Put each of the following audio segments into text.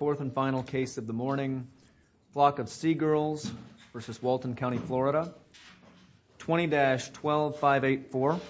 Fourth and final case of the morning, Flock of Seagirls v. Walton County, Florida, 20-12584.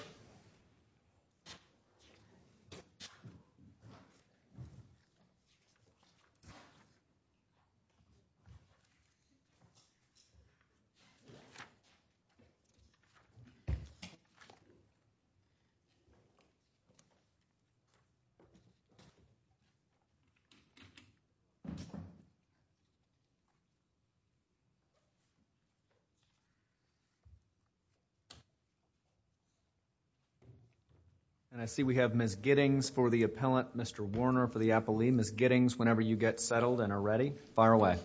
And I see we have Ms. Giddings for the appellant, Mr. Warner for the appellee. Ms. Giddings, whenever you get settled and are ready, fire away.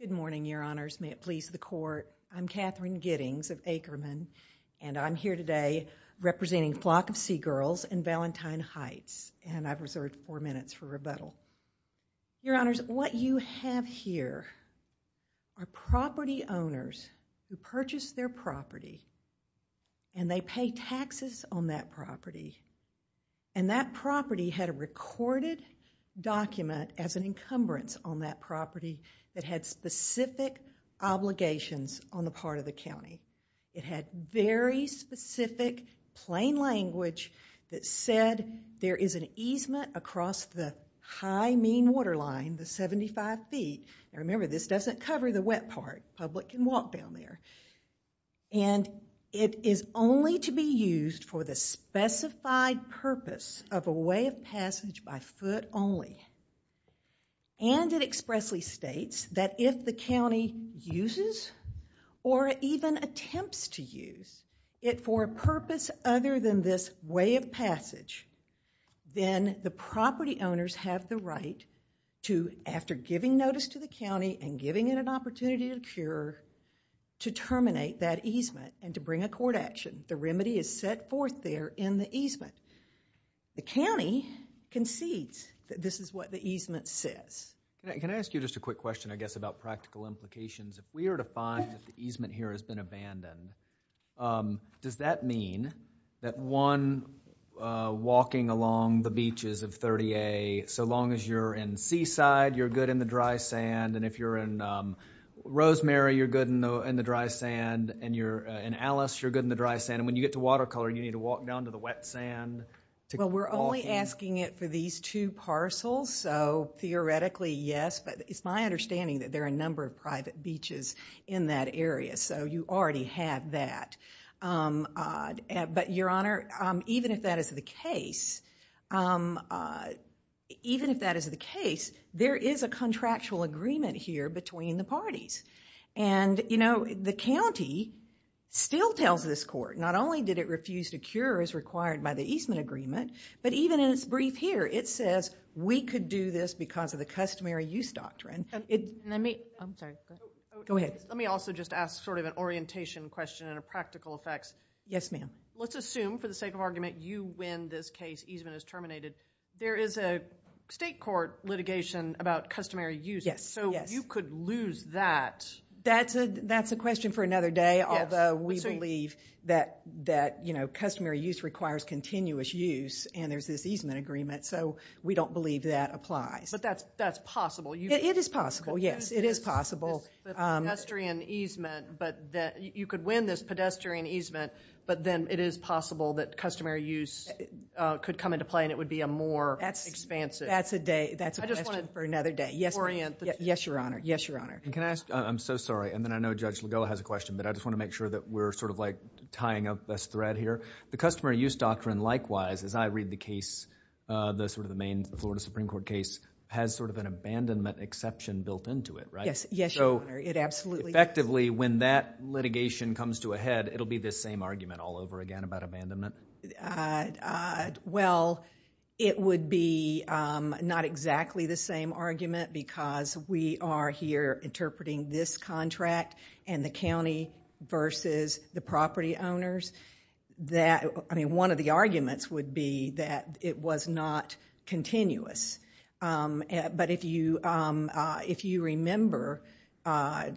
Good morning, Your Honors. May it please the court, I'm Katherine Giddings of Ackerman, and I'm here today representing Flock of Seagirls and Valentine Heights. And I've reserved four minutes for rebuttal. Your Honors, what you have here are property owners who purchased their property and they pay taxes on that property. And that property had a recorded document as an encumbrance on that property that had specific obligations on the part of the county. It had very specific plain language that said there is an easement across the high mean waterline, the 75 feet. Now remember, this doesn't cover the wet part. The public can walk down there. And it is only to be used for the specified purpose of a way of passage by foot only. And it expressly states that if the county uses or even attempts to use it for a purpose other than this way of passage, then the property owners have the right to, after giving notice to the county and giving it an opportunity to cure, to terminate that easement and to bring a court action. The remedy is set forth there in the easement. The county concedes that this is what the easement says. Can I ask you just a quick question, I guess, about practical implications? If we are to find that the easement here has been abandoned, does that mean that one walking along the beaches of 30A, so long as you're in Seaside, you're good in the dry sand. And if you're in Rosemary, you're good in the dry sand. And you're in Alice, you're good in the dry sand. And when you get to Watercolor, you need to walk down to the wet sand. Well, we're only asking it for these two parcels. So theoretically, yes. But it's my understanding that there are a number of private beaches in that area. So you already have that. But, Your Honor, even if that is the case, even if that is the case, there is a contractual agreement here between the parties. And the county still tells this court, not only did it refuse to cure as required by the easement agreement, but even in its brief here, it says, we could do this because of the customary use doctrine. I'm sorry. Go ahead. Let me also just ask sort of an orientation question and a practical effects. Yes, ma'am. Let's assume, for the sake of argument, you win this case, easement is terminated. There is a state court litigation about customary use. Yes. So you could lose that. That's a question for another day, although we believe that, you know, customary use requires continuous use, and there's this easement agreement. So we don't believe that applies. But that's possible. It is possible, yes. It is possible. Pedestrian easement, but you could win this pedestrian easement, but then it is possible that customary use could come into play and it would be a more expansive. That's a day. That's a question for another day. Yes, Your Honor. Yes, Your Honor. Can I ask? I'm so sorry, and then I know Judge Legola has a question, but I just want to make sure that we're sort of like tying up this thread here. The customary use doctrine, likewise, as I read the case, the sort of the main Florida Supreme Court case, has sort of an abandonment exception built into it, right? Yes, Your Honor. It absolutely does. So effectively, when that litigation comes to a head, it will be this same argument all over again about abandonment? Well, it would be not exactly the same argument because we are here interpreting this contract and the county versus the property owners. I mean, one of the arguments would be that it was not continuous. But if you remember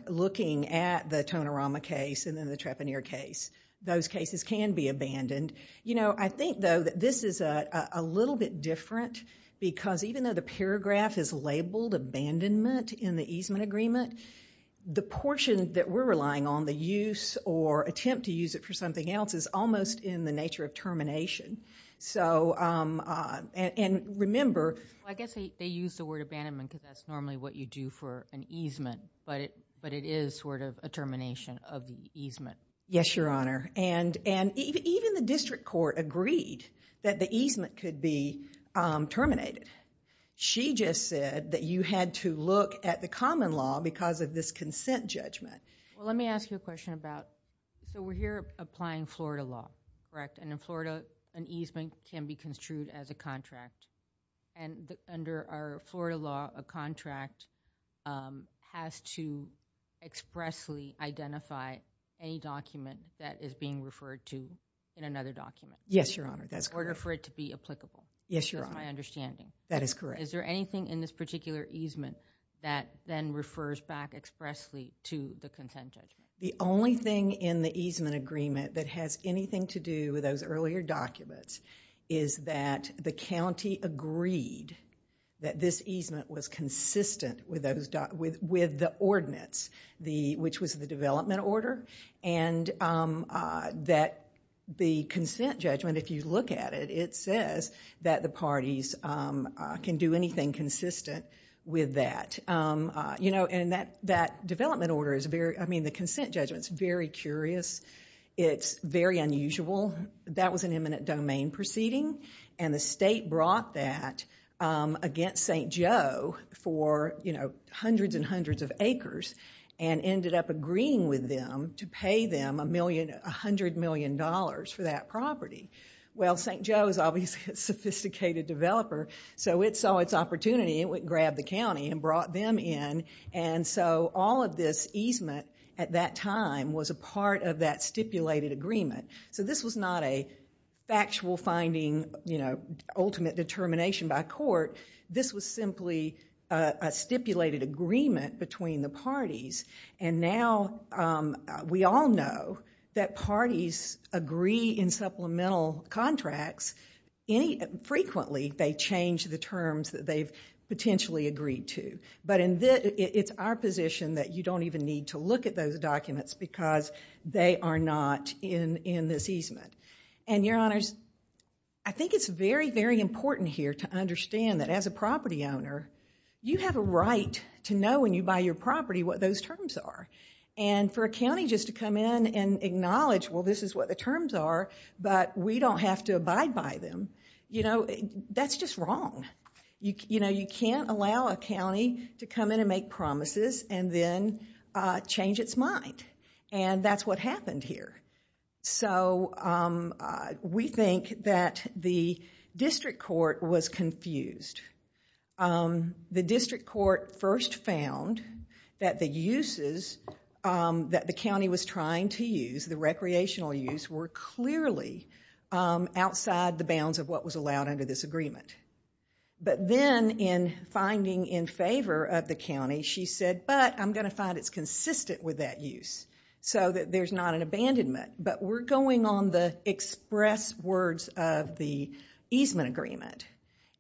looking at the Tonorama case and then the Trepanier case, those cases can be abandoned. You know, I think, though, that this is a little bit different because even though the paragraph is labeled abandonment in the easement agreement, the portion that we're relying on, the use or attempt to use it for something else, is almost in the nature of termination. So, and remember— Well, I guess they use the word abandonment because that's normally what you do for an easement, but it is sort of a termination of the easement. Yes, Your Honor. And even the district court agreed that the easement could be terminated. She just said that you had to look at the common law because of this consent judgment. Well, let me ask you a question about— So we're here applying Florida law, correct? And in Florida, an easement can be construed as a contract. And under our Florida law, a contract has to expressly identify any document that is being referred to in another document. Yes, Your Honor, that's correct. In order for it to be applicable. Yes, Your Honor. That's my understanding. That is correct. Is there anything in this particular easement that then refers back expressly to the consent judgment? The only thing in the easement agreement that has anything to do with those earlier documents is that the county agreed that this easement was consistent with the ordinance, which was the development order. And that the consent judgment, if you look at it, it says that the parties can do anything consistent with that. And that development order is very—I mean, the consent judgment is very curious. It's very unusual. That was an eminent domain proceeding, and the state brought that against St. Joe for hundreds and hundreds of acres and ended up agreeing with them to pay them $100 million for that property. Well, St. Joe is obviously a sophisticated developer, so it saw its opportunity and it grabbed the county and brought them in. And so all of this easement at that time was a part of that stipulated agreement. So this was not a factual finding, you know, ultimate determination by court. This was simply a stipulated agreement between the parties. And now we all know that parties agree in supplemental contracts. Frequently they change the terms that they've potentially agreed to. But it's our position that you don't even need to look at those documents because they are not in this easement. And, Your Honors, I think it's very, very important here to understand that as a property owner, you have a right to know when you buy your property what those terms are. And for a county just to come in and acknowledge, well, this is what the terms are, but we don't have to abide by them, you know, that's just wrong. You know, you can't allow a county to come in and make promises and then change its mind. And that's what happened here. So we think that the district court was confused. The district court first found that the uses that the county was trying to use, the recreational use, were clearly outside the bounds of what was allowed under this agreement. But then in finding in favor of the county, she said, but I'm going to find it's consistent with that use so that there's not an abandonment. But we're going on the express words of the easement agreement.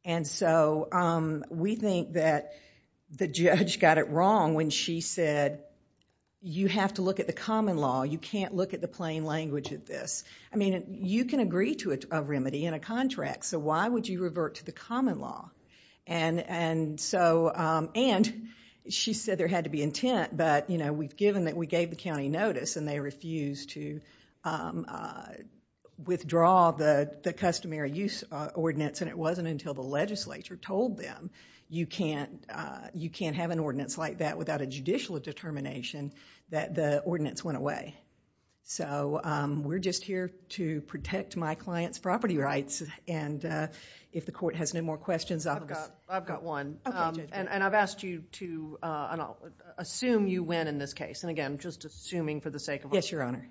And so we think that the judge got it wrong when she said, you have to look at the common law, you can't look at the plain language of this. I mean, you can agree to a remedy in a contract, so why would you revert to the common law? And she said there had to be intent, but, you know, we gave the county notice and they refused to withdraw the customary use ordinance, and it wasn't until the legislature told them you can't have an ordinance like that without a judicial determination that the ordinance went away. So we're just here to protect my client's property rights. And if the court has no more questions, I've got one. And I've asked you to assume you win in this case. And, again, just assuming for the sake of honor. Yes, Your Honor.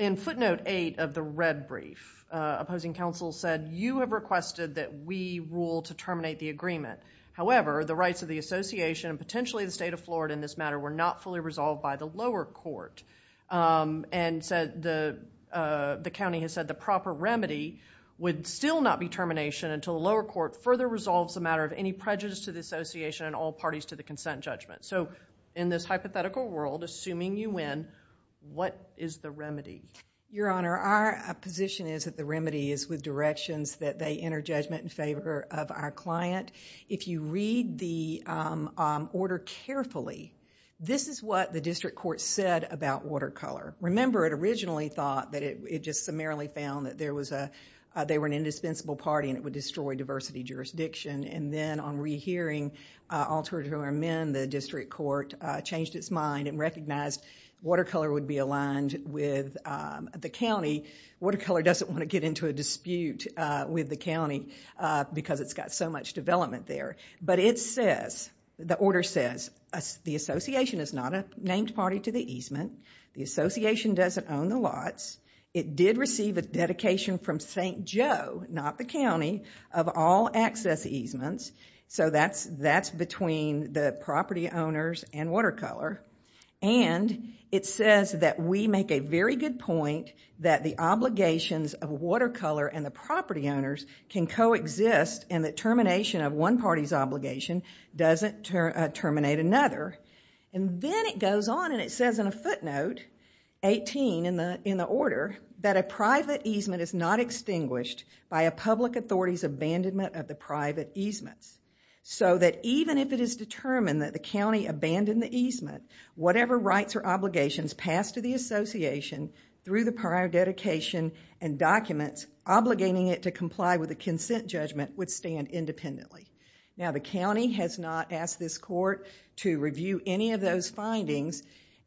In footnote eight of the red brief, opposing counsel said, you have requested that we rule to terminate the agreement. However, the rights of the association and potentially the state of Florida in this matter were not fully resolved by the lower court. And the county has said the proper remedy would still not be termination until the lower court further resolves the matter of any prejudice to the association and all parties to the consent judgment. So in this hypothetical world, assuming you win, what is the remedy? Your Honor, our position is that the remedy is with directions that they enter judgment in favor of our client. If you read the order carefully, this is what the district court said about Watercolor. Remember, it originally thought that it just summarily found that they were an indispensable party and it would destroy diversity jurisdiction. And then on rehearing alter to amend, the district court changed its mind and recognized Watercolor would be aligned with the county. Watercolor doesn't want to get into a dispute with the county because it's got so much development there. But it says, the order says, the association is not a named party to the easement. The association doesn't own the lots. It did receive a dedication from St. Joe, not the county, of all access easements. So that's between the property owners and Watercolor. And it says that we make a very good point that the obligations of Watercolor and the property owners can coexist in the termination of one party's obligation doesn't terminate another. And then it goes on and it says in a footnote, 18 in the order, that a private easement is not extinguished by a public authority's abandonment of the private easements. So that even if it is determined that the county abandoned the easement, whatever rights or obligations passed to the association through the prior dedication and documents obligating it to comply with the consent judgment would stand independently. Now the county has not asked this court to review any of those findings.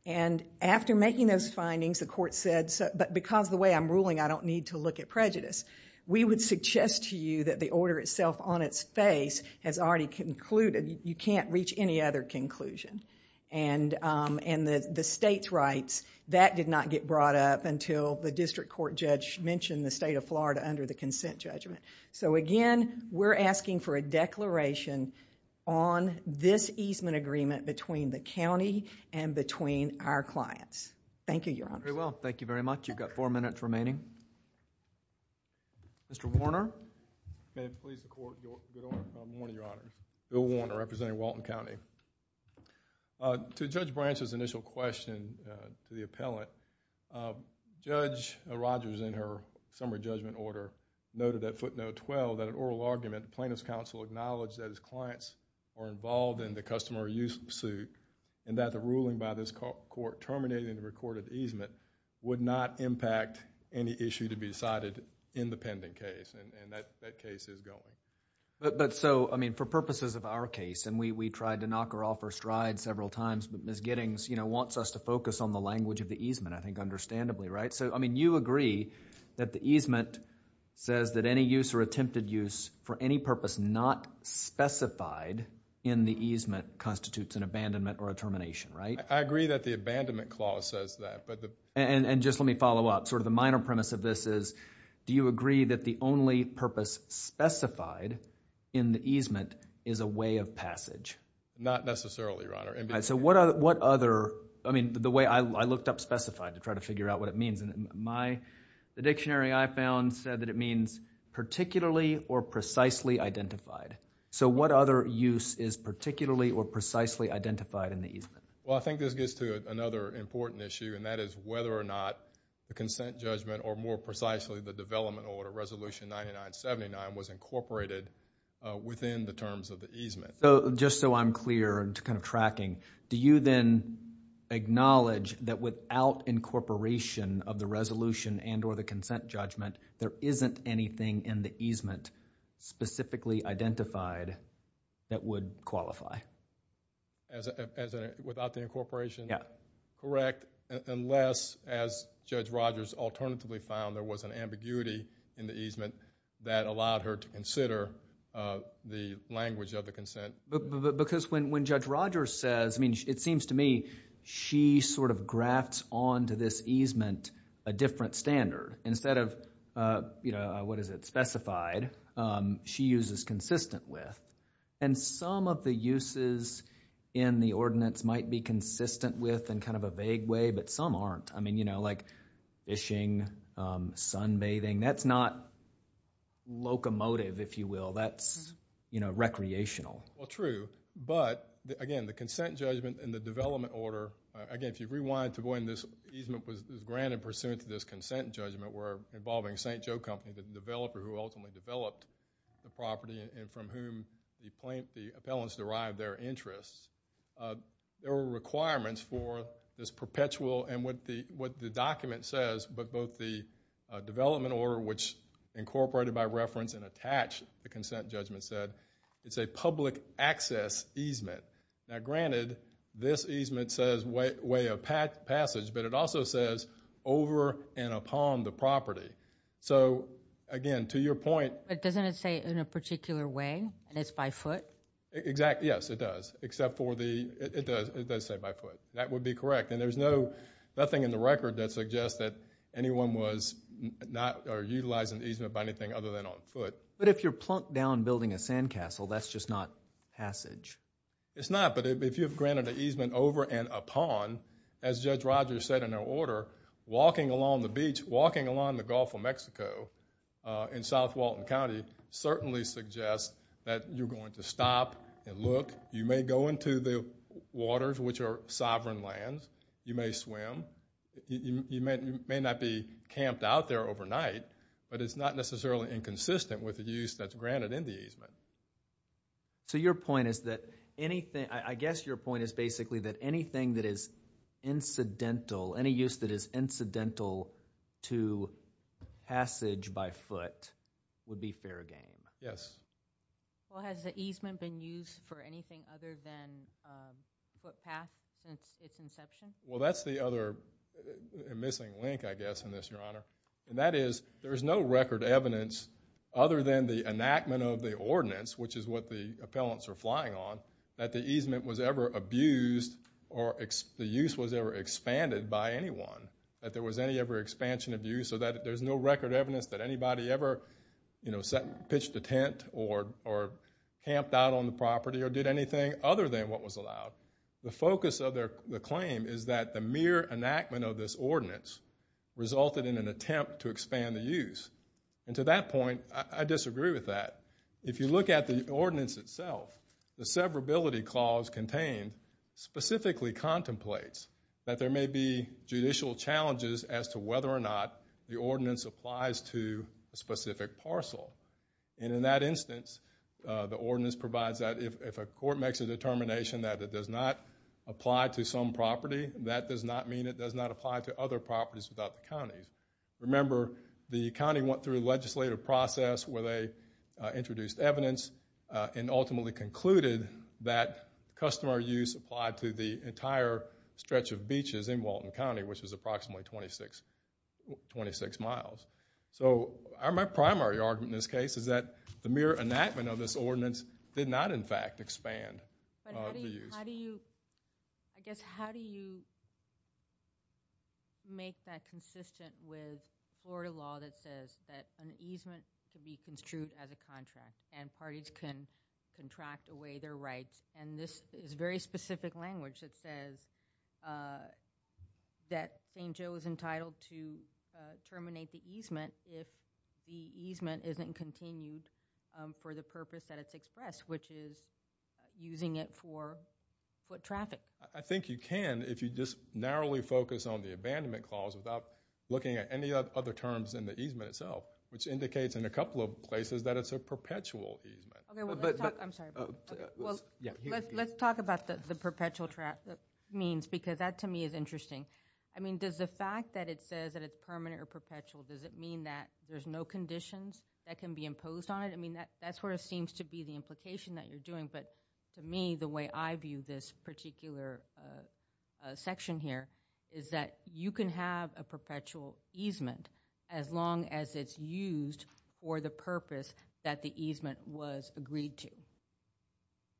And after making those findings, the court said, but because of the way I'm ruling, I don't need to look at prejudice. We would suggest to you that the order itself on its face has already concluded. You can't reach any other conclusion. And the state's rights, that did not get brought up until the district court judge mentioned the state of Florida under the consent judgment. So again, we're asking for a declaration on this easement agreement between the county and between our clients. Thank you, Your Honor. Very well. Thank you very much. You've got four minutes remaining. Mr. Warner. May it please the court. Good morning, Your Honor. Bill Warner, representing Walton County. To Judge Branch's initial question to the appellant, Judge Rogers in her summary judgment order noted at footnote 12 that an oral argument plaintiff's counsel acknowledged that his clients are involved in the customer use suit and that the ruling by this court terminating the recorded easement would not impact any issue to be decided in the pending case. And that case is going. But so, I mean, for purposes of our case, and we tried to knock her off her stride several times, but Ms. Giddings, you know, wants us to focus on the language of the easement, I think, understandably, right? So, I mean, you agree that the easement says that any use or attempted use for any purpose not specified in the easement constitutes an abandonment or a termination, right? I agree that the abandonment clause says that. And just let me follow up. Sort of the minor premise of this is do you agree that the only purpose specified in the easement is a way of passage? Not necessarily, Your Honor. So what other, I mean, the way I looked up specified to try to figure out what it means. The dictionary I found said that it means particularly or precisely identified. So what other use is particularly or precisely identified in the easement? Well, I think this gets to another important issue, and that is whether or not the consent judgment or more precisely the development order, Resolution 9979, was incorporated within the terms of the easement. Just so I'm clear, kind of tracking, do you then acknowledge that without incorporation of the resolution and or the consent judgment, there isn't anything in the easement specifically identified that would qualify? Without the incorporation? Yeah. Correct, unless, as Judge Rogers alternatively found, there was an ambiguity in the easement that allowed her to consider the language of the consent. Because when Judge Rogers says, I mean, it seems to me she sort of grafts onto this easement a different standard. Instead of, you know, what is it, specified, she uses consistent with. And some of the uses in the ordinance might be consistent with in kind of a vague way, but some aren't. I mean, you know, like fishing, sunbathing, that's not locomotive, if you will. That's, you know, recreational. Well, true. But, again, the consent judgment and the development order, again, if you rewind to when this easement was granted pursuant to this consent judgment, were involving St. Joe Company, the developer who ultimately developed the property, and from whom the appellants derived their interests. There were requirements for this perpetual, and what the document says, but both the development order, which incorporated by reference and attached the consent judgment, said it's a public access easement. Now, granted, this easement says way of passage, but it also says over and upon the property. So, again, to your point. But doesn't it say in a particular way, and it's by foot? Exactly. Yes, it does. Except for the, it does say by foot. That would be correct. And there's nothing in the record that suggests that anyone was not utilizing the easement by anything other than on foot. But if you're plunked down building a sandcastle, that's just not passage. It's not. But if you've granted an easement over and upon, as Judge Rogers said in her order, walking along the beach, walking along the Gulf of Mexico in South Walton County certainly suggests that you're going to stop and look. You may go into the waters, which are sovereign lands. You may swim. You may not be camped out there overnight, but it's not necessarily inconsistent with the use that's granted in the easement. So your point is that anything, I guess your point is basically that anything that is incidental, any use that is incidental to passage by foot would be fair game. Yes. Well, has the easement been used for anything other than footpath since its inception? Well, that's the other missing link, I guess, in this, Your Honor. And that is there is no record evidence other than the enactment of the ordinance, which is what the appellants are flying on, that the easement was ever abused or the use was ever expanded by anyone, that there was any ever expansion of use, or that there's no record evidence that anybody ever pitched a tent or camped out on the property or did anything other than what was allowed. The focus of the claim is that the mere enactment of this ordinance resulted in an attempt to expand the use. And to that point, I disagree with that. If you look at the ordinance itself, the severability clause contained specifically contemplates that there may be judicial challenges as to whether or not the ordinance applies to a specific parcel. And in that instance, the ordinance provides that if a court makes a determination that it does not apply to some property, that does not mean it does not apply to other properties without the counties. Remember, the county went through a legislative process where they introduced evidence and ultimately concluded that customer use applied to the entire stretch of beaches in Walton County, which is approximately 26 miles. So my primary argument in this case is that the mere enactment of this ordinance did not, in fact, expand. But how do you make that consistent with Florida law that says that an easement can be construed as a contract and parties can contract away their rights? And this is very specific language that says that St. Joe is entitled to terminate the easement if the easement isn't continued for the purpose that it's expressed, which is using it for foot traffic. I think you can if you just narrowly focus on the abandonment clause without looking at any other terms in the easement itself, which indicates in a couple of places that it's a perpetual easement. I'm sorry. Let's talk about the perpetual means because that, to me, is interesting. I mean, does the fact that it says that it's permanent or perpetual, does it mean that there's no conditions that can be imposed on it? I mean, that sort of seems to be the implication that you're doing. But to me, the way I view this particular section here is that you can have a perpetual easement as long as it's used for the purpose that the easement was agreed to.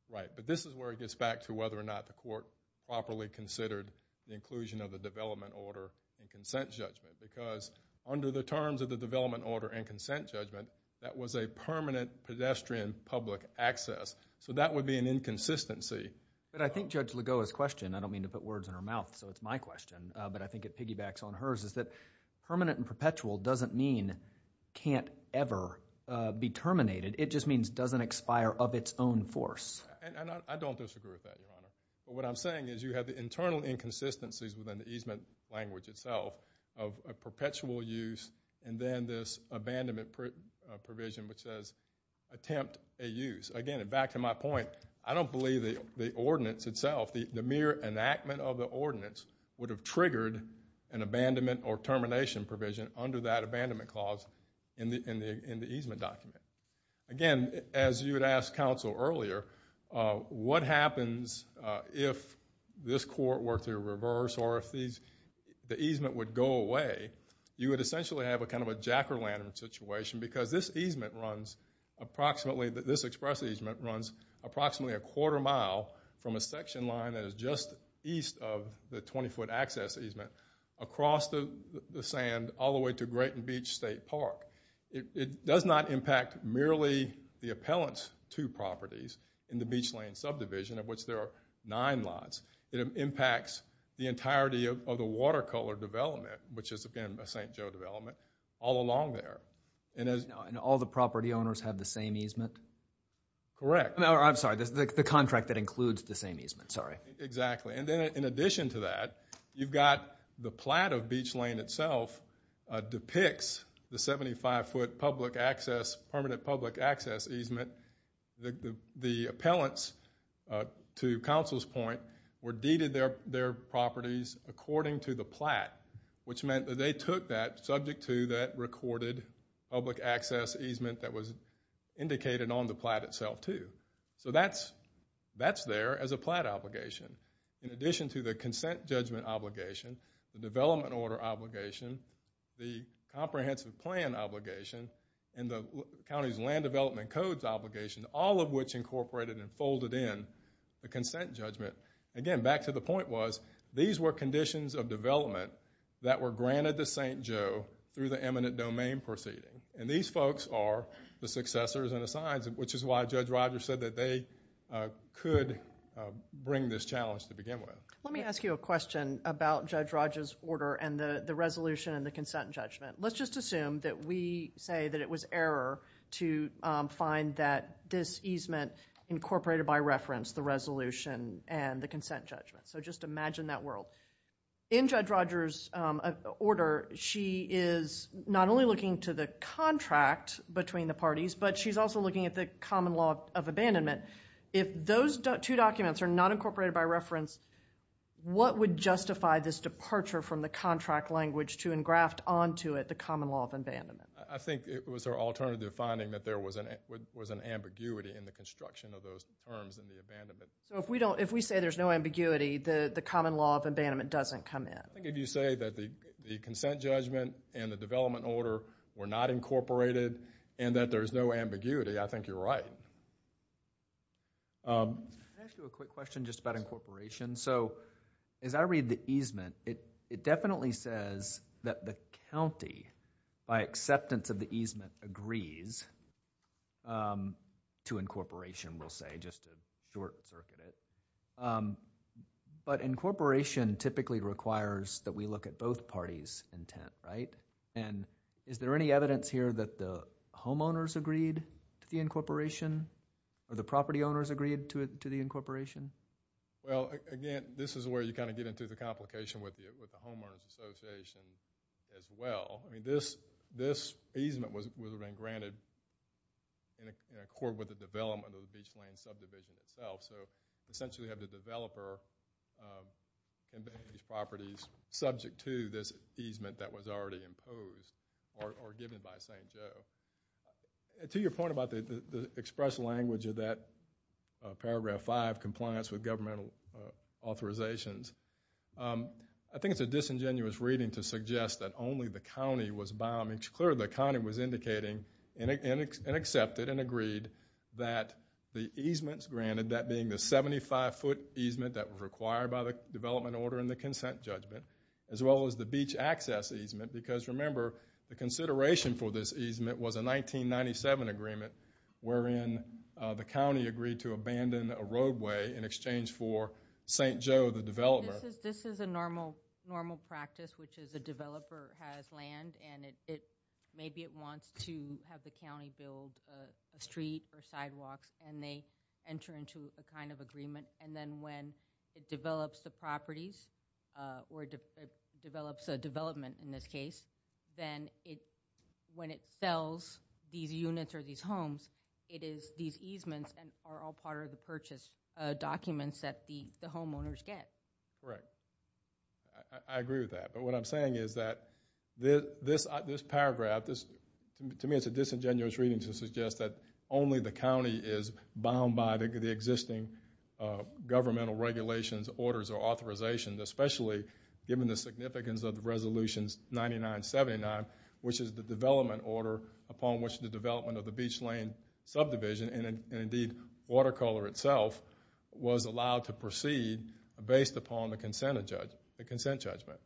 Right, but this is where it gets back to whether or not the court properly considered the inclusion of the development order and consent judgment because under the terms of the development order and consent judgment, that was a permanent pedestrian public access. So that would be an inconsistency. But I think Judge Ligoa's question, I don't mean to put words in her mouth, so it's my question, but I think it piggybacks on hers, is that permanent and perpetual doesn't mean can't ever be terminated. It just means doesn't expire of its own force. And I don't disagree with that, Your Honor. But what I'm saying is you have the internal inconsistencies within the easement language itself of a perpetual use and then this abandonment provision which says attempt a use. Again, back to my point, I don't believe the ordinance itself, the mere enactment of the ordinance would have triggered an abandonment or termination provision under that abandonment clause in the easement document. Again, as you had asked counsel earlier, what happens if this court were to reverse or if the easement would go away? You would essentially have kind of a jack-o'-lantern situation because this easement runs approximately, this express easement runs approximately a quarter mile from a section line that is just east of the 20-foot access easement across the sand all the way to Grayton Beach State Park. It does not impact merely the appellant's two properties in the Beach Lane subdivision of which there are nine lots. It impacts the entirety of the watercolor development, which is, again, a St. Joe development, all along there. And all the property owners have the same easement? Correct. I'm sorry, the contract that includes the same easement, sorry. Exactly. And then in addition to that, you've got the plat of Beach Lane itself depicts the 75-foot permanent public access easement. The appellants, to counsel's point, were deeded their properties according to the plat, which meant that they took that subject to that recorded public access easement that was indicated on the plat itself, too. So that's there as a plat obligation. In addition to the consent judgment obligation, the development order obligation, the comprehensive plan obligation, and the county's land development codes obligation, all of which incorporated and folded in the consent judgment. Again, back to the point was these were conditions of development that were granted to St. Joe through the eminent domain proceeding. And these folks are the successors and assigns, which is why Judge Rogers said that they could bring this challenge to begin with. Let me ask you a question about Judge Rogers' order and the resolution and the consent judgment. Let's just assume that we say that it was error to find that this easement incorporated by reference the resolution and the consent judgment. So just imagine that world. In Judge Rogers' order, she is not only looking to the contract between the parties, but she's also looking at the common law of abandonment. If those two documents are not incorporated by reference, what would justify this departure from the contract language to engraft onto it the common law of abandonment? I think it was her alternative finding that there was an ambiguity in the construction of those terms in the abandonment. So if we say there's no ambiguity, the common law of abandonment doesn't come in. I think if you say that the consent judgment and the development order were not incorporated and that there's no ambiguity, I think you're right. Can I ask you a quick question just about incorporation? So as I read the easement, it definitely says that the county, by acceptance of the easement, agrees to incorporation, we'll say, just to short circuit it. But incorporation typically requires that we look at both parties' intent, right? And is there any evidence here that the homeowners agreed to the incorporation or the property owners agreed to the incorporation? Well, again, this is where you kind of get into the complication with the homeowners association as well. I mean, this easement was granted in accord with the development of the Beach Lane subdivision itself. So essentially we have the developer convey these properties subject to this easement that was already imposed or given by St. Joe. To your point about the express language of that paragraph 5, compliance with governmental authorizations, I think it's a disingenuous reading to suggest that only the county was bound. I mean, it's clear the county was indicating and accepted and agreed that the easements granted, that being the 75-foot easement that was required by the development order and the consent judgment, as well as the beach access easement, because remember, the consideration for this easement was a 1997 agreement wherein the county agreed to abandon a roadway in exchange for St. Joe, the developer. This is a normal practice, which is a developer has land and maybe it wants to have the county build a street or sidewalks and they enter into a kind of agreement. And then when it develops the properties or develops a development in this case, then when it sells these units or these homes, it is these easements that are all part of the purchase documents that the homeowners get. Correct. I agree with that. What I'm saying is that this paragraph, to me it's a disingenuous reading to suggest that only the county is bound by the existing governmental regulations, orders, or authorizations, especially given the significance of the Resolutions 9979, which is the development order upon which the development of the beach lane subdivision and indeed Watercolor itself was allowed to proceed based upon the consent judgment.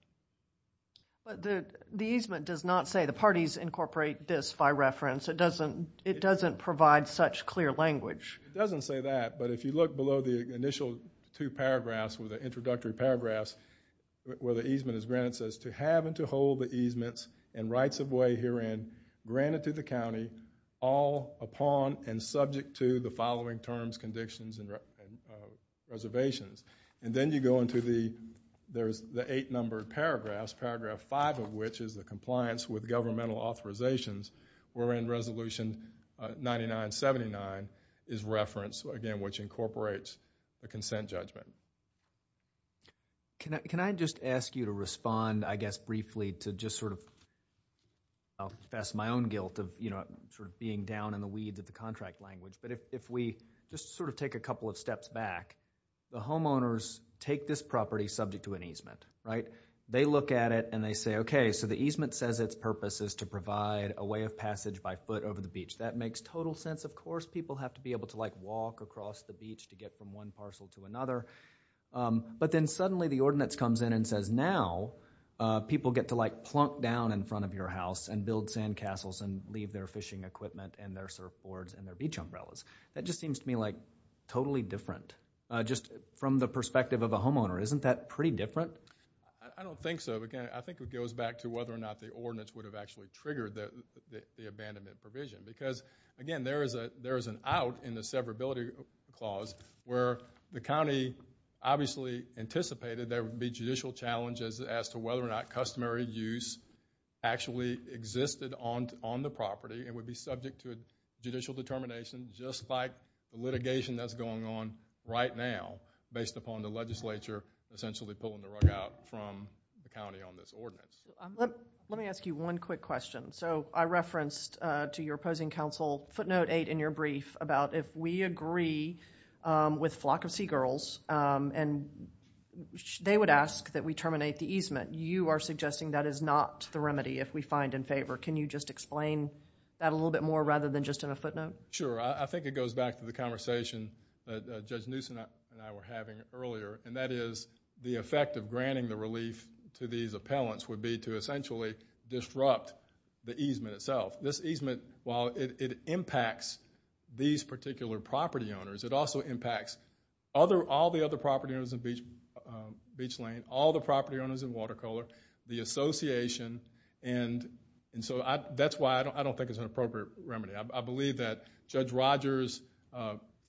But the easement does not say the parties incorporate this by reference. It doesn't provide such clear language. It doesn't say that, but if you look below the initial two paragraphs with the introductory paragraphs where the easement is granted, it says to have and to hold the easements and rights of way herein granted to the county all upon and subject to the following terms, conditions, and reservations. And then you go into the eight-numbered paragraphs, paragraph five of which is the compliance with governmental authorizations, wherein Resolution 9979 is referenced, again, which incorporates the consent judgment. Can I just ask you to respond, I guess briefly, to just sort of confess my own guilt of sort of being down in the weeds of the contract language. But if we just sort of take a couple of steps back, the homeowners take this property subject to an easement, right? They look at it and they say, okay, so the easement says its purpose is to provide a way of passage by foot over the beach. That makes total sense. Of course people have to be able to like walk across the beach to get from one parcel to another. But then suddenly the ordinance comes in and says, now people get to like plunk down in front of your house and build sandcastles and leave their fishing equipment and their surfboards and their beach umbrellas. That just seems to me like totally different, just from the perspective of a homeowner. Isn't that pretty different? I don't think so. Again, I think it goes back to whether or not the ordinance would have actually triggered the abandonment provision. Because, again, there is an out in the severability clause where the county obviously anticipated there would be judicial challenges as to whether or not customary use actually existed on the property and would be subject to a judicial determination, just like the litigation that's going on right now based upon the legislature essentially pulling the rug out from the county on this ordinance. Let me ask you one quick question. So I referenced to your opposing counsel footnote 8 in your brief about if we agree with Flock of Seagirls and they would ask that we terminate the easement, you are suggesting that is not the remedy if we find in favor. Can you just explain that a little bit more rather than just in a footnote? Sure. I think it goes back to the conversation that Judge Newsom and I were having earlier, and that is the effect of granting the relief to these appellants would be to essentially disrupt the easement itself. This easement, while it impacts these particular property owners, it also impacts all the other property owners in Beach Lane, all the property owners in Watercolor, the association, and so that's why I don't think it's an appropriate remedy. I believe that Judge Rogers'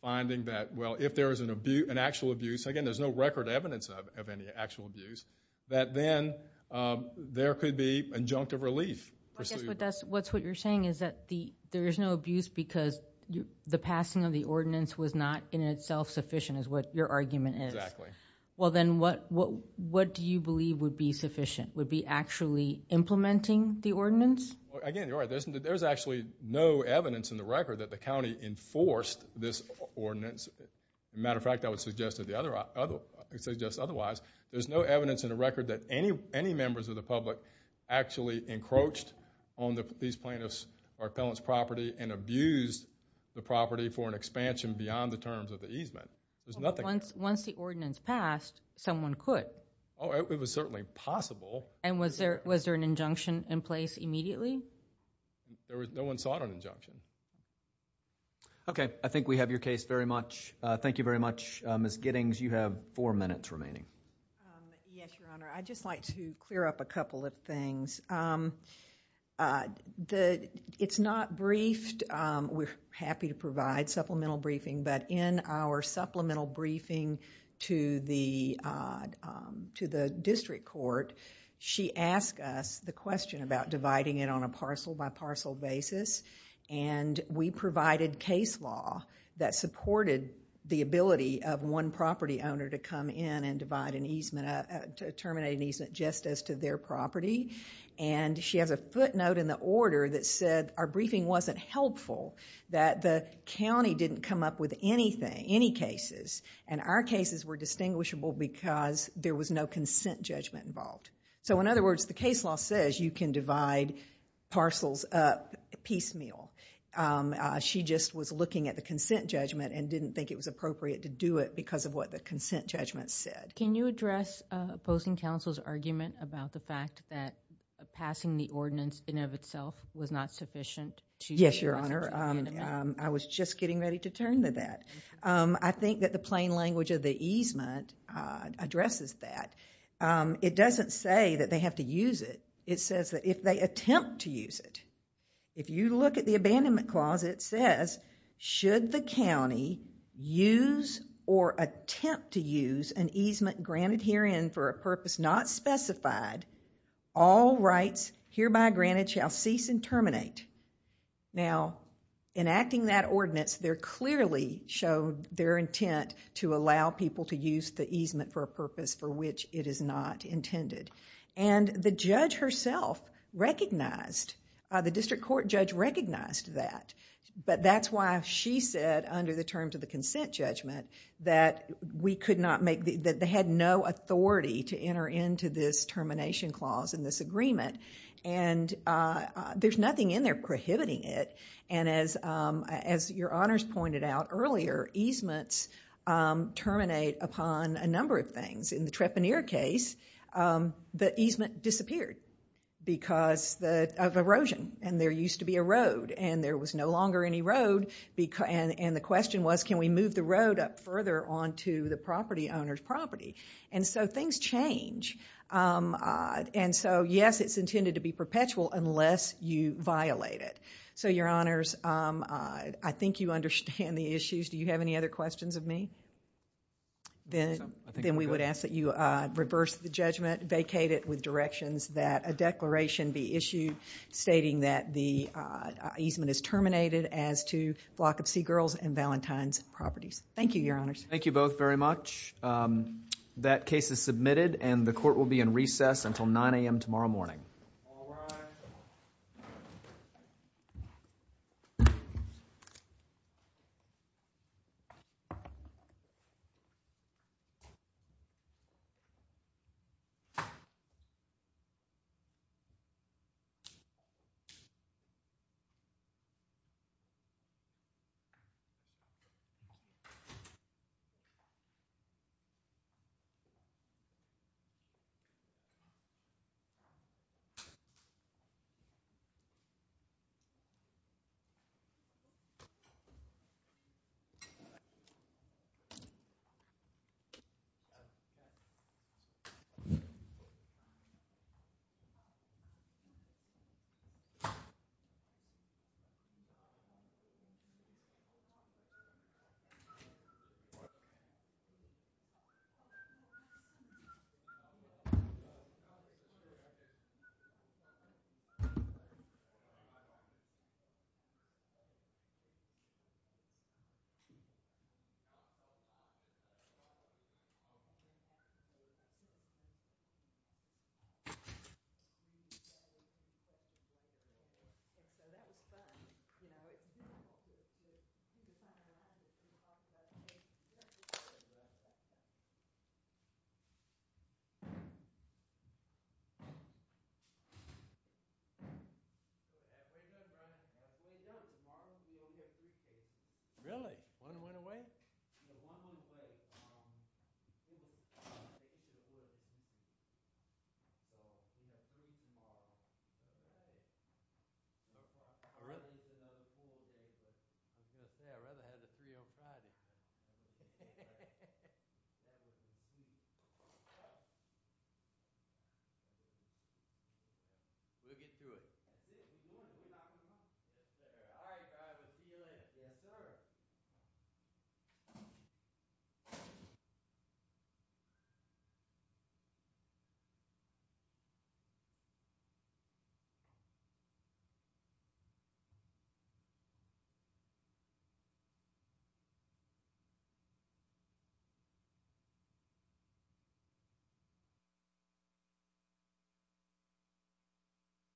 finding that, well, if there is an actual abuse, again, there's no record evidence of any actual abuse, that then there could be injunctive relief pursued. I guess what you're saying is that there is no abuse because the passing of the ordinance was not in itself sufficient is what your argument is. Exactly. Well, then what do you believe would be sufficient? Would it be actually implementing the ordinance? Again, you're right. There's actually no evidence in the record that the county enforced this ordinance. As a matter of fact, I would suggest otherwise. There's no evidence in the record that any members of the public actually encroached on these plaintiffs' or appellants' property and abused the property for an expansion beyond the terms of the easement. Once the ordinance passed, someone could. Oh, it was certainly possible. And was there an injunction in place immediately? No one sought an injunction. Okay. I think we have your case very much. Thank you very much. Ms. Giddings, you have four minutes remaining. Yes, Your Honor. I'd just like to clear up a couple of things. It's not briefed. We're happy to provide supplemental briefing, but in our supplemental briefing to the district court, she asked us the question about dividing it on a parcel-by-parcel basis, and we provided case law that supported the ability of one property owner to come in and terminate an easement just as to their property. And she has a footnote in the order that said our briefing wasn't helpful, that the county didn't come up with anything, any cases, and our cases were distinguishable because there was no consent judgment involved. So, in other words, the case law says you can divide parcels up piecemeal. She just was looking at the consent judgment and didn't think it was appropriate to do it because of what the consent judgment said. Can you address opposing counsel's argument about the fact that passing the ordinance in and of itself was not sufficient? Yes, Your Honor. I was just getting ready to turn to that. I think that the plain language of the easement addresses that. It doesn't say that they have to use it. It says that if they attempt to use it, if you look at the abandonment clause, it says, should the county use or attempt to use an easement granted herein for a purpose not specified, all rights hereby granted shall cease and terminate. Now, in acting that ordinance, there clearly showed their intent to allow people to use the easement for a purpose for which it is not intended. And the judge herself recognized, the district court judge recognized that. But that's why she said, under the terms of the consent judgment, that they had no authority to enter into this termination clause and this agreement. And there's nothing in there prohibiting it. And as Your Honors pointed out earlier, easements terminate upon a number of things. In the Trepanier case, the easement disappeared because of erosion. And there used to be a road. And there was no longer any road. And the question was, can we move the road up further onto the property owner's property? And so things change. And so, yes, it's intended to be perpetual unless you violate it. So, Your Honors, I think you understand the issues. Do you have any other questions of me? Then we would ask that you reverse the judgment, vacate it with directions that a declaration be issued stating that the easement is terminated as to Block of Sea Girls and Valentine's properties. Thank you, Your Honors. Thank you both very much. That case is submitted. And the court will be in recess until 9 a.m. tomorrow morning. All rise. Thank you. Thank you. So that was fun. You know, it's beautiful. It's kind of nice to talk about the case. You have to be very good at that. Way to go, Brian. Way to go. Tomorrow, you'll get these cases. Really? One went away? No, one went away. I'm going to say, I'd rather have the three on Friday. We'll get through it. All right, see you later. Yes, sir. Thank you.